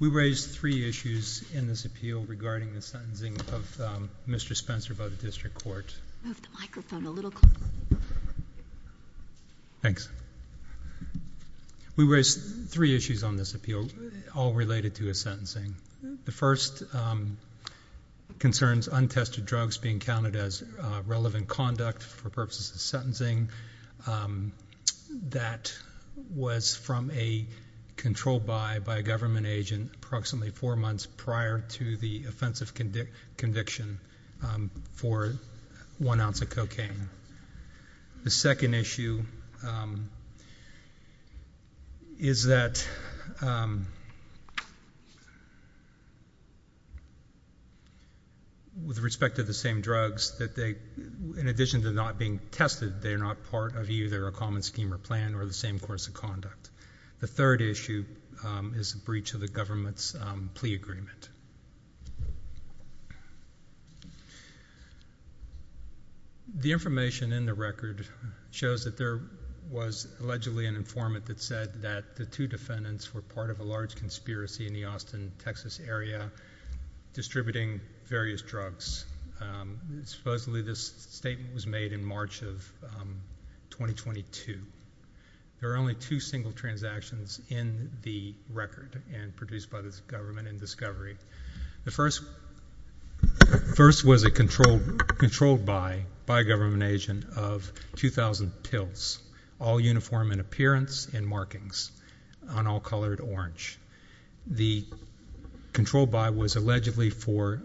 We raise three issues in this appeal regarding the sentencing of Mr. Spencer by the District Court. We raise three issues on this appeal, all related to his sentencing. The first concerns untested drugs being counted as relevant conduct for purposes of sentencing. That was from a control buy by a government agent approximately four months prior to the offensive conviction for one ounce of cocaine. The second issue is that with respect to the same drugs, in addition to not being tested, they are not part of either a common scheme or plan or the same course of conduct. The third issue is the breach of the government's plea agreement. The information in the record shows that there was allegedly an informant that said that the two defendants were part of a large conspiracy in the Austin Texas area distributing various drugs. Supposedly this statement was made in March of twenty twenty two. There are only two single transactions in the record and produced by this government in discovery. The first first was a controlled controlled by by government agent of two thousand pills all uniform in appearance and markings on all colored orange. The control by was allegedly for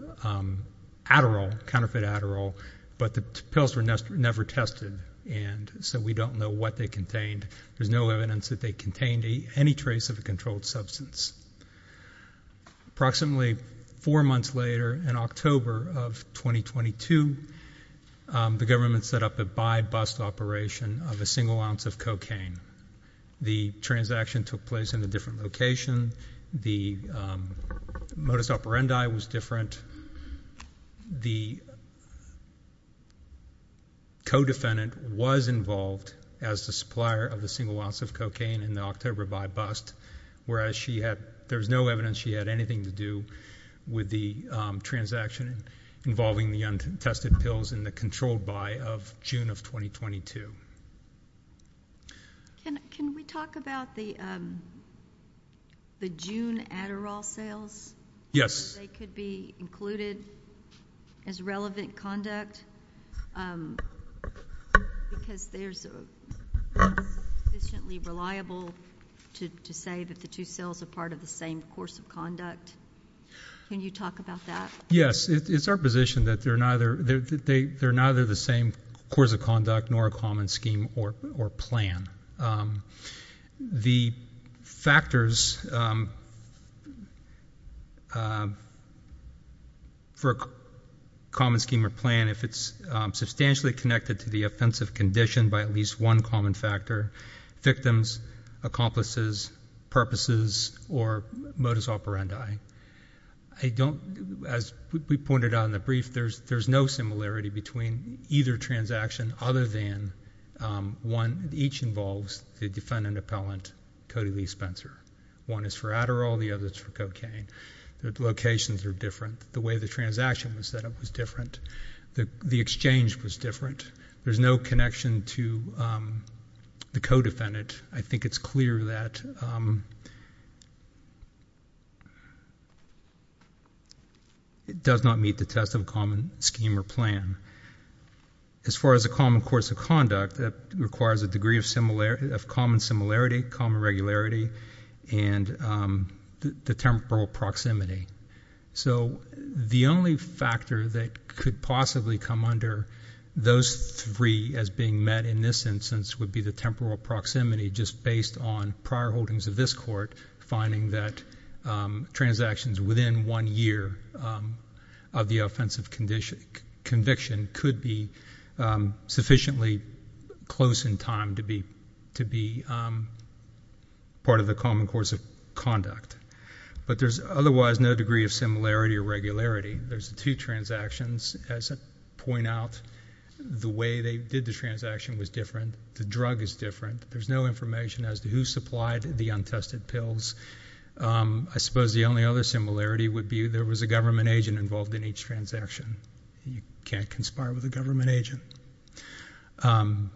Adderall counterfeit Adderall, but the pills were never tested. And so we don't know what they contained. There's no evidence that they contained any trace of a controlled substance. Approximately four months later, in October of twenty twenty two, the government set up a by bust operation of a single ounce of cocaine. The transaction took place in a different location. The modus operandi was different. Co-defendant was involved as the supplier of the single ounce of cocaine in the October by bust, whereas she had there was no evidence she had anything to do with the transaction involving the untested pills in the controlled by of June of twenty twenty two. Can we talk about the the June Adderall sales? Yes, they could be included as relevant conduct because there's a reliable to to say that the two cells are part of the same course of conduct. Can you talk about that? Yes, it's our position that they're neither the same course of conduct, nor a common scheme or plan. The factors for a common scheme or plan, if it's substantially connected to the offensive condition by at least one common factor. Victims, accomplices, purposes, or modus operandi. I don't, as we pointed out in the brief, there's no similarity between either transaction other than one. Each involves the defendant appellant, Cody Lee Spencer. One is for Adderall, the other's for cocaine. The locations are different. The way the transaction was set up was different. The exchange was different. There's no connection to the co-defendant. I think it's clear that it does not meet the test of common scheme or plan. As far as a common course of conduct, that requires a degree of common similarity, common regularity, and the temporal proximity. So the only factor that could possibly come under those three as being met in this instance would be the temporal proximity just based on prior holdings of this court, finding that transactions within one year of the offensive conviction could be sufficiently close in time to be part of the common course of conduct. But there's otherwise no degree of similarity or regularity. There's two transactions, as I point out. The way they did the transaction was different. The drug is different. There's no information as to who supplied the untested pills. I suppose the only other similarity would be there was a government agent involved in each transaction. You can't conspire with a government agent. Let me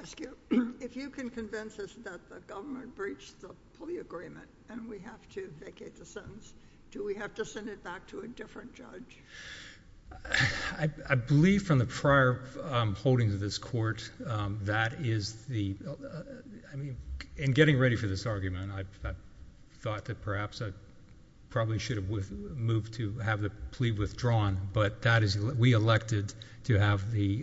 ask you, if you can convince us that the government breached the fully agreement and we have to vacate the sentence, do we have to send it back to a different judge? I believe from the prior holdings of this court, that is the, I mean, in getting ready for this argument, I thought that perhaps I probably should have moved to have the plea withdrawn, but that is, we elected to have the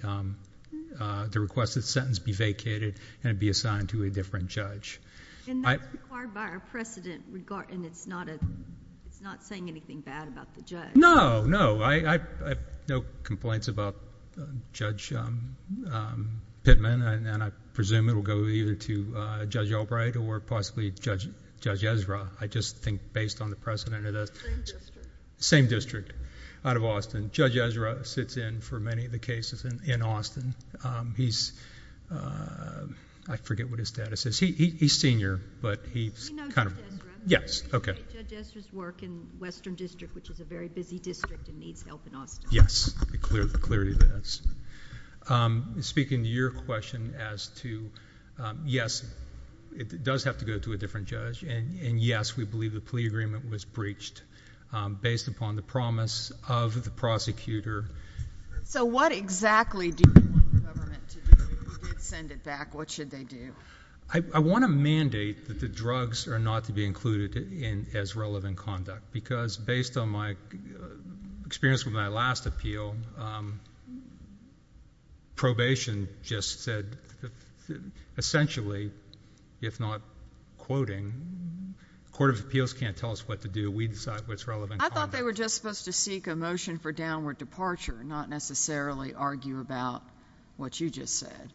requested sentence be vacated and be assigned to a different judge. And that's required by our precedent, and it's not saying anything bad about the judge. No, no. I have no complaints about Judge Pittman, and I presume it will go either to Judge Albright or possibly Judge Ezra. I just think based on the precedent, it is... Same district. Same district out of Austin. Judge Ezra sits in for many of the cases in Austin. He's... I forget what his status is. He's senior, but he's kind of... He knows Judge Ezra. Yes. Okay. Judge Ezra's work in Western District, which is a very busy district and needs help in Austin. Yes. The clarity of that. Speaking to your question as to, yes, it does have to go to a different judge, and yes, we believe the plea agreement was breached based upon the promise of the prosecutor. So what exactly do you want the government to do if they did send it back? What should they do? I want to mandate that the drugs are not to be included as relevant conduct, because based on my experience with my last appeal, probation just said essentially, if not quoting, the Court of Appeals can't tell us what to do. We decide what's relevant. I thought they were just supposed to seek a motion for downward departure, not necessarily argue about what you just said.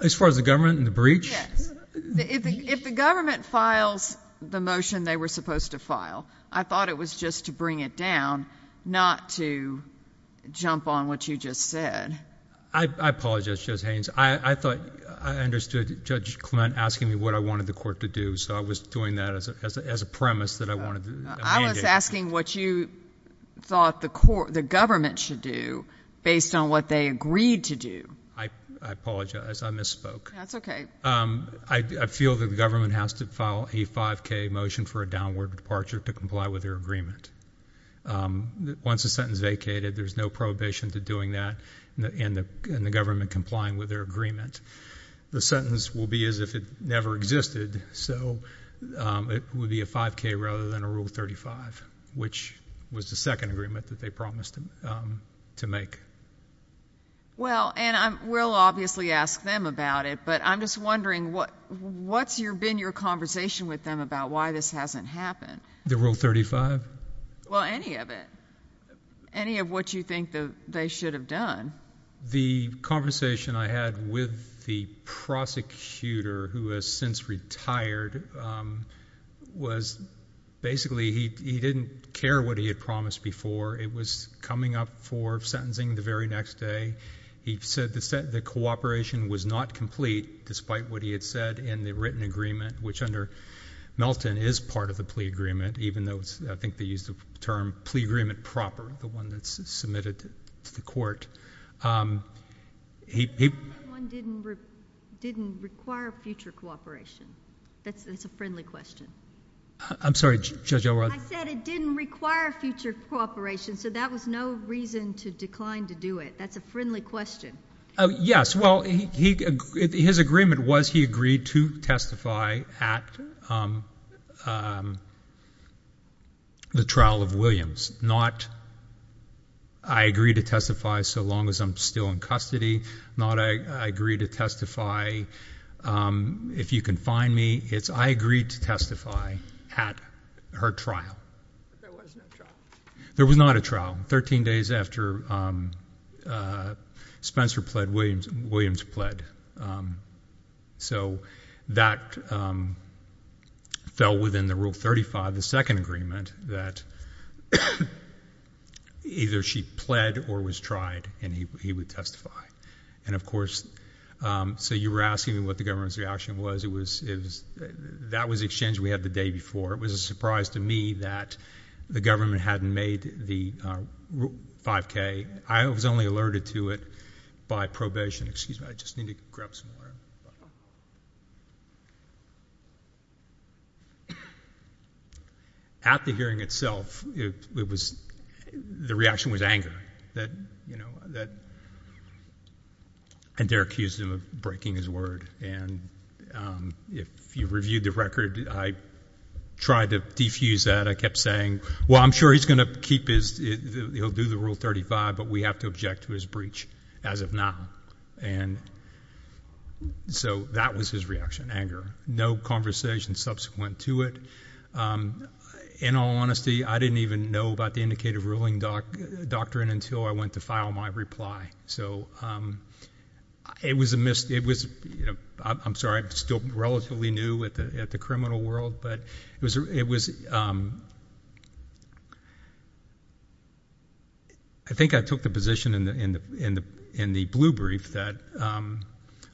As far as the government and the breach? If the government files the motion they were supposed to file, I thought it was just to bring it down, not to jump on what you just said. I apologize, Judge Haynes. I thought... I understood Judge Clint asking me what I wanted the Court to do, so I was doing that as a premise that I wanted a mandate. I was asking what you thought the government should do based on what they agreed to do. I apologize. I misspoke. That's okay. I feel that the government has to file a 5K motion for a downward departure to comply with their agreement. Once the sentence vacated, there's no prohibition to doing that in the government complying with their agreement. The sentence will be as if it never existed, so it would be a 5K rather than a Rule 35, which was the second agreement that they promised to make. Well, and we'll obviously ask them about it, but I'm just wondering, what's been your conversation with them about why this hasn't happened? The Rule 35? Well, any of it. Any of what you think they should have done. The conversation I had with the prosecutor, who has since retired, was basically he didn't care what he had promised before. It was coming up for sentencing the very next day. He said the cooperation was not complete, despite what he had said in the written agreement, which under Melton is part of the plea agreement, even though I think they used the term plea agreement proper, the one that's submitted to the court. He... That one didn't require future cooperation. That's a friendly question. I'm sorry. Judge Elrod. I said it didn't require future cooperation, so that was no reason to decline to do it. That's a friendly question. Yes. Well, his agreement was he agreed to testify at the trial of Williams, not I agree to testify so long as I'm still in custody, not I agree to testify if you can find me. It's I agreed to testify at her trial. But there was no trial. There was not a trial. Thirteen days after Spencer pled, Williams pled. So that fell within the Rule 35, the second agreement, that either she pled or was tried and he would testify. And of course, so you were asking me what the government's reaction was. That was the exchange we had the day before. It was a surprise to me that the government hadn't made the Rule 5K. I was only alerted to it by probation. Excuse me. I just need to grab some water. At the hearing itself, it was, the reaction was anger that, you know, that, and they're accused of breaking his word. And if you reviewed the record, I tried to defuse that. I kept saying, well, I'm sure he's going to keep his, he'll do the Rule 35, but we have to object to his breach as of now. And so that was his reaction, anger. No conversation subsequent to it. In all honesty, I didn't even know about the indicative ruling doctrine until I went to file my reply. So it was, I'm sorry, I'm still relatively new at the criminal world, but it was, I think I took the position in the blue brief that,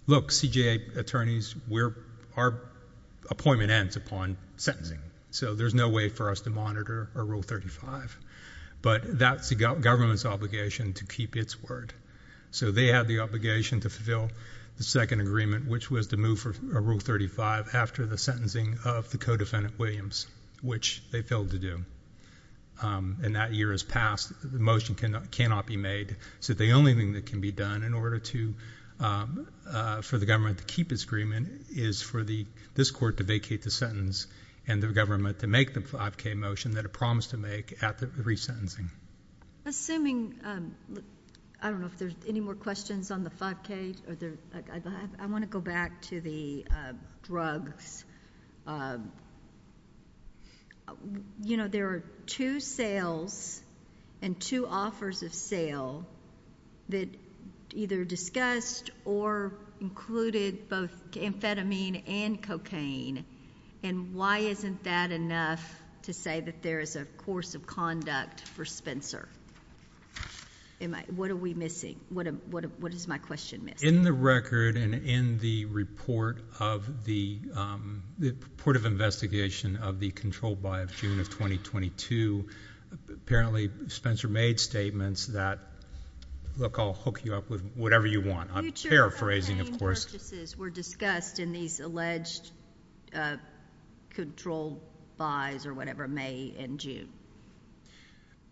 look, CJA attorneys, our appointment ends upon sentencing. So there's no way for us to monitor a Rule 35. But that's the government's obligation to keep its word. So they had the obligation to fulfill the second agreement, which was to move for a Rule 35 after the sentencing of the co-defendant Williams, which they failed to do. And that year has passed. The motion cannot be made. So the only thing that can be done in order to, for the government to keep its agreement is for this court to vacate the sentence and the government to make the 5K motion that it promised to make after the resentencing. Assuming, I don't know if there's any more questions on the 5K. I want to go back to the drugs. You know, there are two sales and two offers of sale that either discussed or included both amphetamine and cocaine. And why isn't that enough to say that there is a course of conduct for Spencer? What are we missing? What does my question miss? In the record and in the report of the, the report of investigation of the control buy of June of 2022, apparently Spencer made statements that, look, I'll hook you up with whatever you want. I'm paraphrasing, of course. Future cocaine purchases were discussed in these alleged control buys or whatever May and June.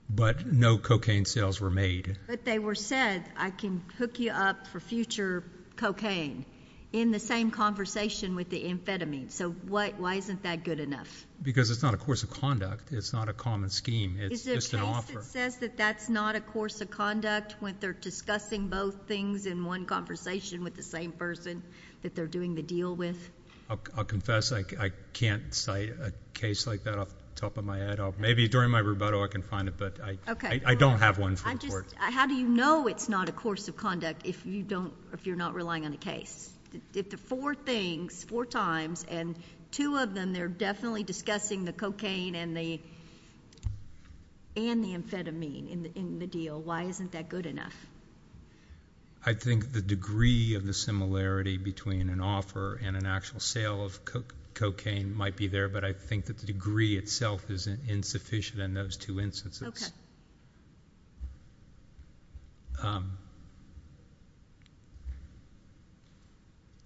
But no cocaine sales were made. But they were said, I can hook you up for future cocaine in the same conversation with the amphetamine. So why isn't that good enough? Because it's not a course of conduct. It's not a common scheme. It's just an offer. Is there a case that says that that's not a course of conduct when they're discussing both things in one conversation with the same person that they're doing the deal with? I'll confess I can't cite a case like that off the top of my head. Maybe during my rebuttal I can find it, but I don't have one for the court. How do you know it's not a course of conduct if you're not relying on a case? If the four things, four times, and two of them, they're definitely discussing the cocaine and the amphetamine in the deal, why isn't that good enough? I think the degree of the similarity between an offer and an actual sale of cocaine might be there, but I think that the degree itself is insufficient in those two instances.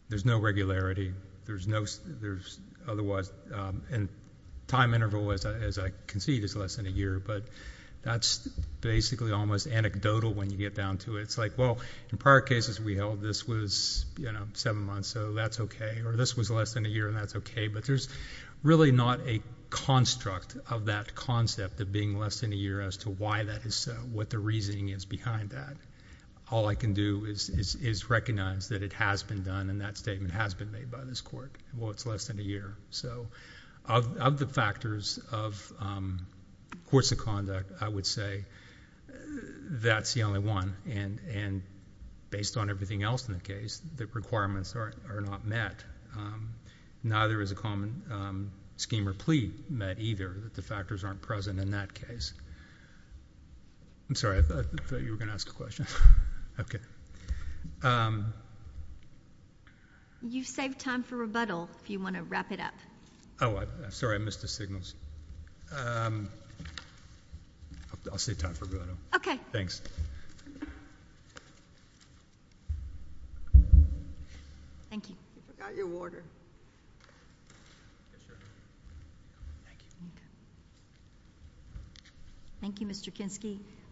There's no regularity, and time interval, as I concede, is less than a year, but that's basically almost anecdotal when you get down to it. It's like, well, in prior cases we held this was seven months, so that's okay, or this was less than a year, and that's okay, but there's really not a construct of that concept of being less than a year as to why that is so, what the reasoning is behind that. All I can do is recognize that it has been done, and that statement has been made by this court. Well, it's less than a year. Of the factors of course of conduct, I would say that's the only one, and based on everything else in the case, the requirements are not met. Neither is a common scheme or plea met either, that the factors aren't present in that case. I'm sorry, I thought you were going to ask a question. You've saved time for rebuttal if you want to wrap it up. Oh, I'm sorry. I missed the signals. I'll save time for rebuttal. Okay. Thanks.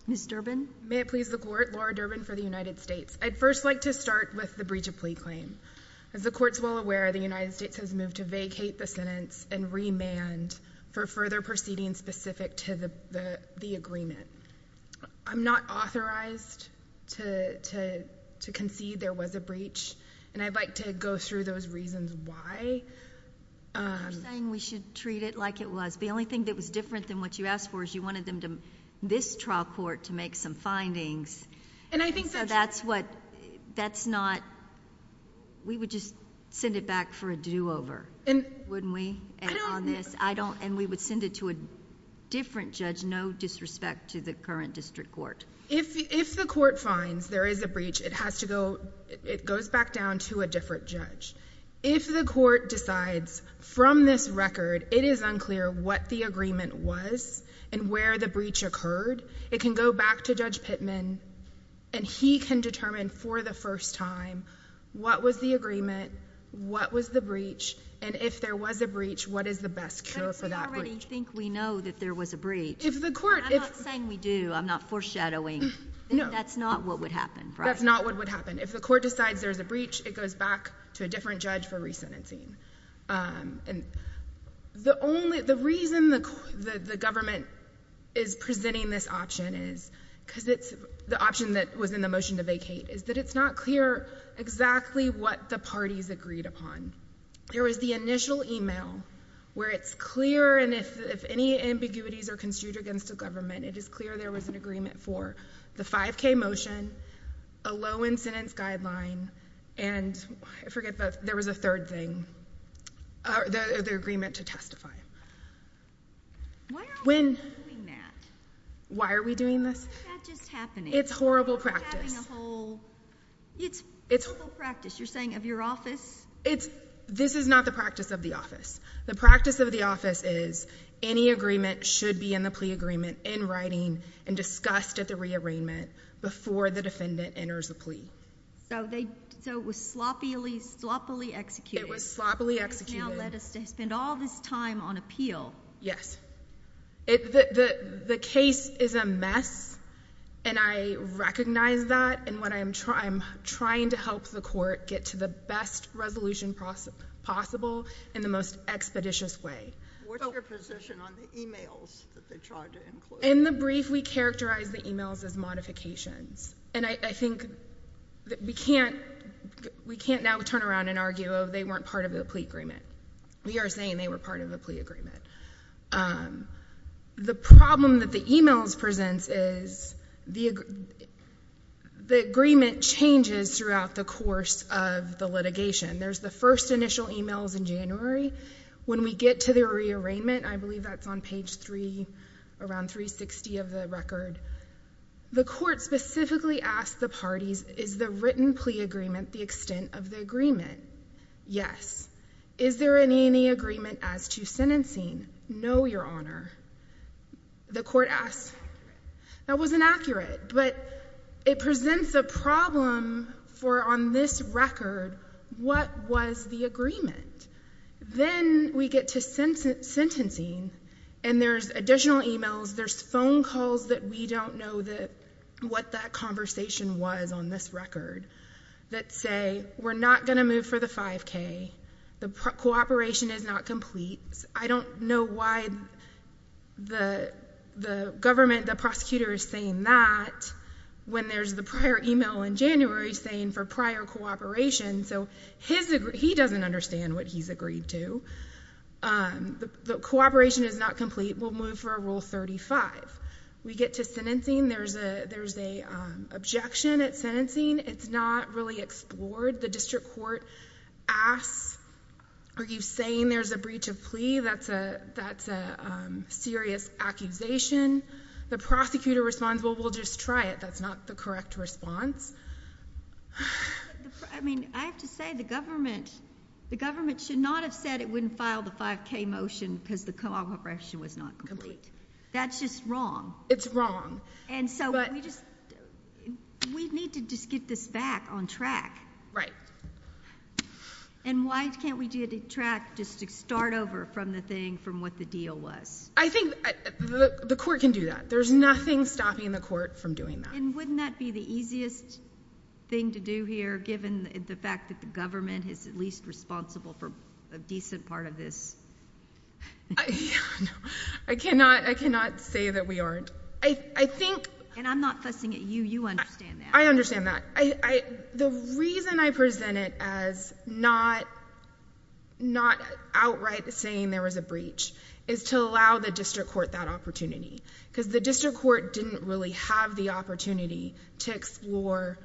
Ms. Durbin? May it please the Court, Laura Durbin for the United States. I'd first like to start with the breach of plea claim. As the Court's well aware, the United States has moved to vacate the sentence and remand for further proceedings specific to the agreement. I'm not authorized to concede there was a breach and I'd like to go through those reasons why. I'm not saying we should treat it like it was. The only thing that was different than what you asked for is you wanted this trial court to make some findings. And I think that's... So that's what... that's not... we would just send it back for a do-over, wouldn't we? I don't... If the Court finds there is a breach, it has to go... it goes back down to a different judge. If the Court decides from this record it is unclear what the agreement was and where the breach occurred, it can go back to Judge Pittman and he can determine for the first time what was the agreement, what was the breach, and if there was a breach, what is the best cure for that breach. But if we already think we know that there was a breach... If the Court... I'm not saying we do. I'm not foreshadowing. No. That's not what would happen, right? That's not what would happen. If the Court decides there's a breach, it goes back to a different judge for resentencing. And the only... the reason the government is presenting this option is... because it's... the option that was in the motion to vacate is that it's not clear exactly what the parties agreed upon. There was the initial email where it's clear, and if any ambiguities are construed against the government, it is clear there was an agreement for the 5K motion, a low incidence guideline, and I forget, but there was a third thing, the agreement to testify. Why are we doing that? Why are we doing this? Why is that just happening? It's horrible practice. We're having a whole... it's horrible practice, you're saying, of your office? It's... this is not the practice of the office. The practice of the office is any agreement should be in the plea agreement, in writing, and discussed at the rearrangement, before the defendant enters the plea. So they... so it was sloppily, sloppily executed. It was sloppily executed. It has now led us to spend all this time on appeal. Yes. The case is a mess, and I recognize that, and I'm trying to help the court get to the best resolution possible in the most expeditious way. What's your position on the emails that they tried to include? In the brief, we characterized the emails as modifications, and I think that we can't... we can't now turn around and argue, oh, they weren't part of the plea agreement. We are saying they were part of the plea agreement. The problem that the emails presents is the agreement changes throughout the course of the litigation. There's the first initial emails in January. When we get to the rearrangement, I believe that's on page 3, around 360 of the record, the court specifically asked the parties, is the written plea agreement the extent of the agreement? Yes. Is there any agreement as to sentencing? No, Your Honor. The court asked... That wasn't accurate, but it presents a problem for on this record, what was the agreement? Then, we get to sentencing, and there's additional emails. There's phone calls that we don't know what that conversation was on this record that say, we're not going to move for the 5K. The cooperation is not complete. I don't know why the government, the prosecutor is saying that when there's the prior email in January saying for prior cooperation. So, he doesn't understand what he's agreed to. The cooperation is not complete. We'll move for Rule 35. We get to sentencing. There's an objection at sentencing. It's not really explored. The district court asks, are you saying there's a breach of plea? That's a serious accusation. The prosecutor responds, well, we'll just try it. That's not the correct response. I mean, I have to say, the government should not have said it wouldn't file the 5K motion because the cooperation was not complete. That's just wrong. It's wrong. And so, we need to just get this back on track. Right. And why can't we get it track just to start over from the thing from what the deal was? I think the court can do that. There's nothing stopping the court from doing that. And wouldn't that be the easiest thing to do here given the fact that the government is at least responsible for a decent part of this? I cannot say that we aren't. And I'm not fussing at you. You understand that. I understand that. The reason I present it as not outright saying there was a breach is to allow the district court that opportunity. Because the district court didn't really have the opportunity to explore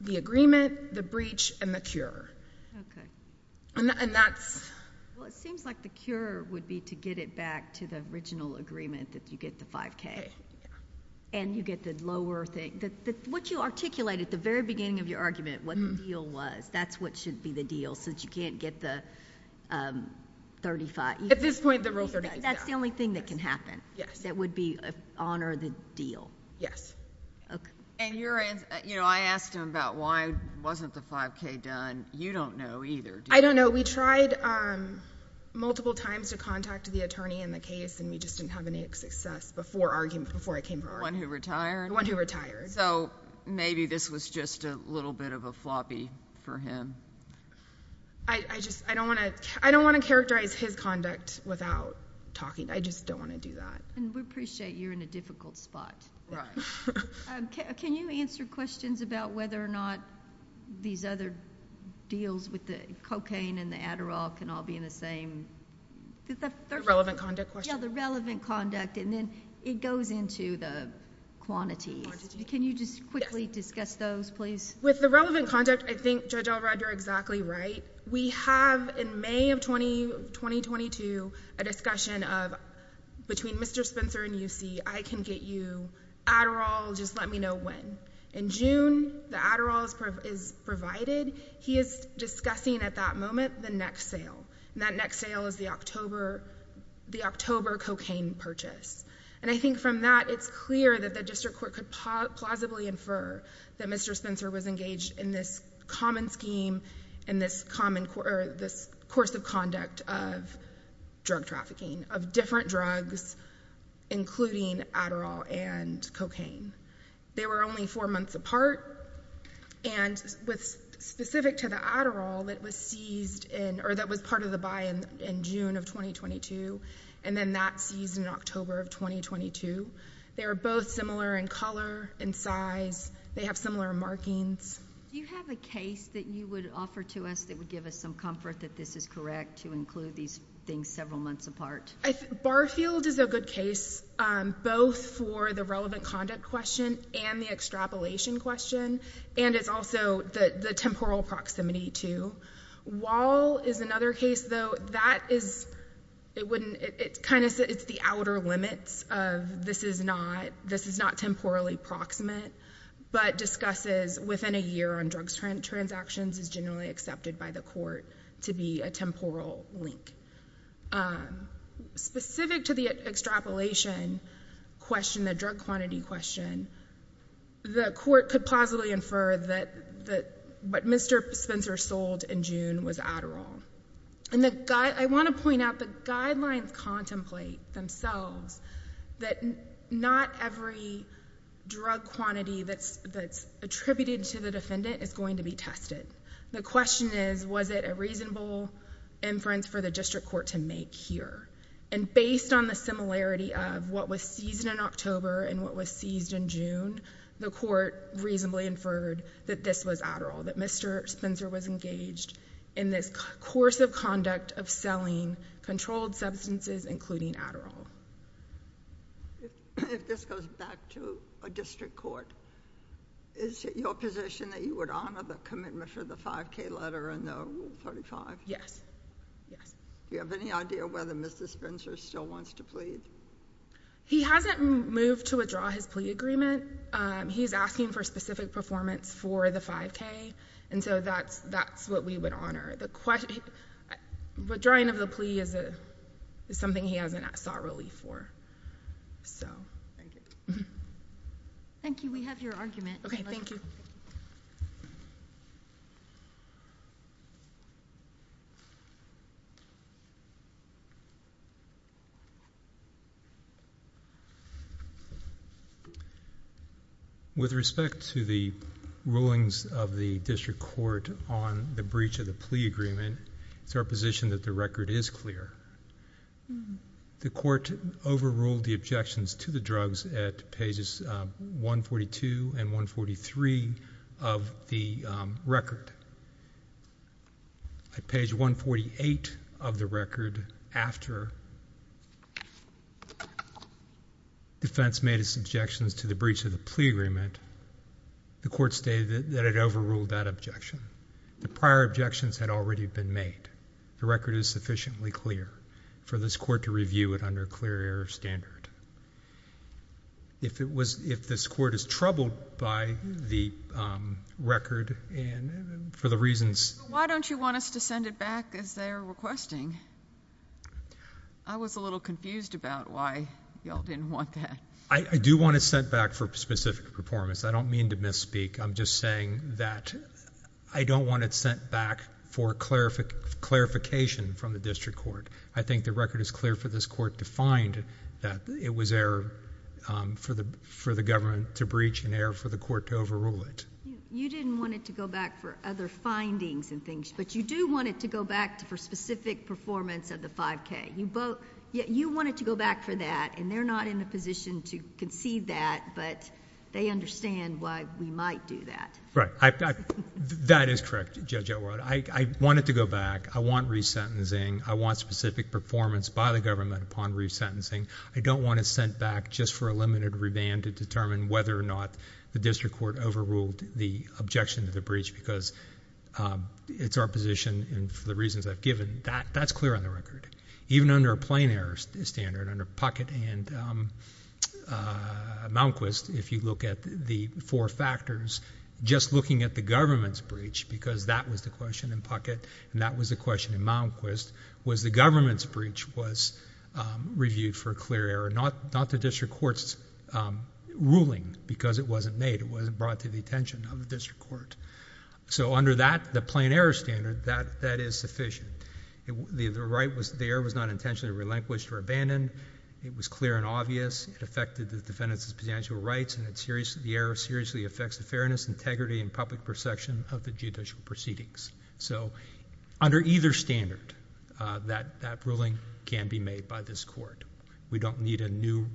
the agreement, the breach, and the cure. Okay. Well, it seems like the cure would be to get it back to the original agreement that you get the 5K. And you get the lower thing. What you articulate at the very beginning of your argument, what the deal was, that's what should be the deal since you can't get the 35. At this point, the rule 35 is down. That's the only thing that can happen. Yes. That would honor the deal. Yes. Okay. I asked him about why wasn't the 5K done. You don't know either, do you? I don't know. We tried multiple times to contact the attorney in the case, and we just didn't have any success before I came forward. The one who retired? The one who retired. So maybe this was just a little bit of a floppy for him. I don't want to characterize his conduct without talking. I just don't want to do that. And we appreciate you're in a difficult spot. Right. Can you answer questions about whether or not these other deals with the cocaine and the Adderall can all be in the same? The relevant conduct question? Yeah, the relevant conduct. And then it goes into the quantities. The quantities. Can you just quickly discuss those, please? With the relevant conduct, I think Judge Elrod, you're exactly right. We have in May of 2022 a discussion of between Mr. Spencer and UC, I can get you Adderall, just let me know when. In June, the Adderall is provided. He is discussing at that moment the next sale, and that next sale is the October cocaine purchase. And I think from that, it's clear that the district court could plausibly infer that Mr. Spencer was engaged in this common scheme, in this course of conduct of drug trafficking, of different drugs, including Adderall and cocaine. They were only four months apart. And specific to the Adderall, it was seized in, or that was part of the buy in June of 2022, and then that seized in October of 2022. They are both similar in color, in size. They have similar markings. Do you have a case that you would offer to us that would give us some comfort that this is correct to include these things several months apart? Barfield is a good case, both for the relevant conduct question and the extrapolation question. And it's also the temporal proximity, too. Wall is another case, though. That is, it wouldn't, it kind of, it's the outer limits of this is not, this is not temporally proximate. But discusses within a year on drugs transactions is generally accepted by the court to be a temporal link. Specific to the extrapolation question, the drug quantity question, the court could plausibly infer that what Mr. Spencer sold in June was Adderall. I want to point out the guidelines contemplate themselves that not every drug quantity that's attributed to the defendant is going to be tested. The question is, was it a reasonable inference for the district court to make here? And based on the similarity of what was seized in October and what was seized in June, the court reasonably inferred that this was Adderall. That Mr. Spencer was engaged in this course of conduct of selling controlled substances, including Adderall. If this goes back to a district court, is it your position that you would honor the commitment for the 5K letter and the Rule 35? Yes. Yes. Do you have any idea whether Mr. Spencer still wants to plead? He hasn't moved to withdraw his plea agreement. He's asking for specific performance for the 5K, and so that's what we would honor. The drawing of the plea is something he hasn't sought relief for. Thank you. Thank you. We have your argument. Okay. Thank you. With respect to the rulings of the district court on the breach of the plea agreement, it's our position that the record is clear. The court overruled the objections to the drugs at pages 142 and 143 of the record. At page 148 of the record, after defense made its objections to the breach of the plea agreement, the court stated that it overruled that objection. The prior objections had already been made. The record is sufficiently clear for this court to review it under a clear error standard. If this court is troubled by the record and for the reasons— Why don't you want us to send it back as they're requesting? I was a little confused about why you all didn't want that. I do want it sent back for specific performance. I don't mean to misspeak. I'm just saying that I don't want it sent back for clarification from the district court. I think the record is clear for this court to find that it was error for the government to breach and error for the court to overrule it. You didn't want it to go back for other findings and things, but you do want it to go back for specific performance of the 5K. You want it to go back for that, and they're not in a position to conceive that, but they understand why we might do that. Right. That is correct, Judge Elrod. I want it to go back. I want resentencing. I want specific performance by the government upon resentencing. I don't want it sent back just for a limited remand to determine whether or not the district court overruled the objection to the breach because it's our position and for the reasons I've given. That's clear on the record, even under a plain error standard under Puckett and Malmquist. If you look at the four factors, just looking at the government's breach, because that was the question in Puckett and that was the question in Malmquist, was the government's breach was reviewed for clear error, not the district court's ruling because it wasn't made. It wasn't brought to the attention of the district court. Under that, the plain error standard, that is sufficient. The error was not intentionally relinquished or abandoned. It was clear and obvious. It affected the defendant's substantial rights, and the error seriously affects the fairness, integrity, and public perception of the judicial proceedings. Under either standard, that ruling can be made by this court. We don't need a new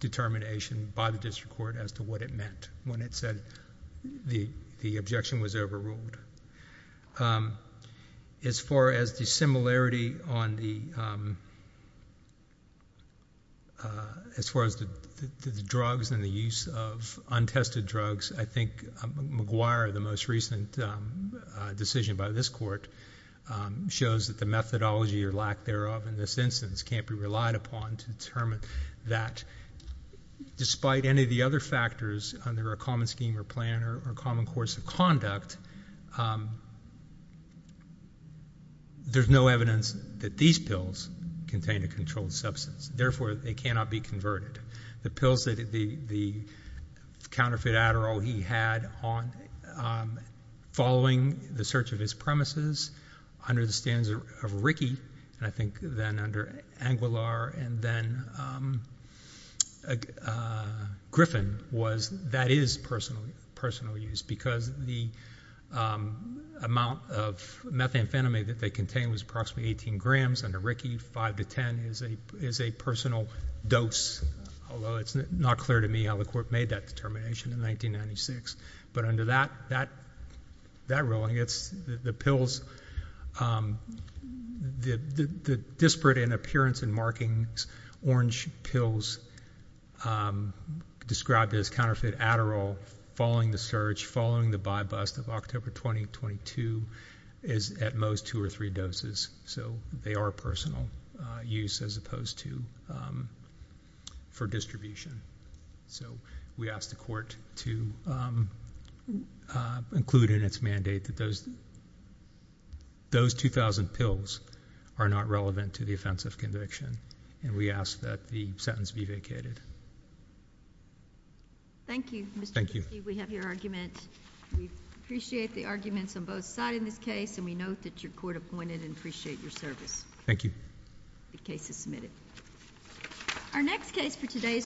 determination by the district court as to what it meant when it said the objection was overruled. As far as the similarity on the drugs and the use of untested drugs, I think McGuire, the most recent decision by this court, shows that the methodology or lack thereof in this instance can't be relied upon to determine that. Despite any of the other factors under a common scheme or plan or common course of conduct, there's no evidence that these pills contain a controlled substance. Therefore, they cannot be converted. The pills that the counterfeit Adderall, he had following the search of his premises, under the standards of Rickey, and I think then under Anguillar, and then Griffin, that is personal use because the amount of methamphetamine that they contained was approximately 18 grams. Under Rickey, 5 to 10 is a personal dose, although it's not clear to me how the court made that determination in 1996. But under that ruling, the pills, the disparate in appearance and markings, orange pills described as counterfeit Adderall following the search, following the buy bust of October 2022, is at most two or three doses, so they are personal use as opposed to for distribution. So we ask the court to include in its mandate that those 2,000 pills are not relevant to the offense of conviction. And we ask that the sentence be vacated. Thank you. Thank you. We have your argument. We appreciate the arguments on both sides in this case, and we note that your court appointed and appreciate your service. Thank you. The case is submitted. Thank you.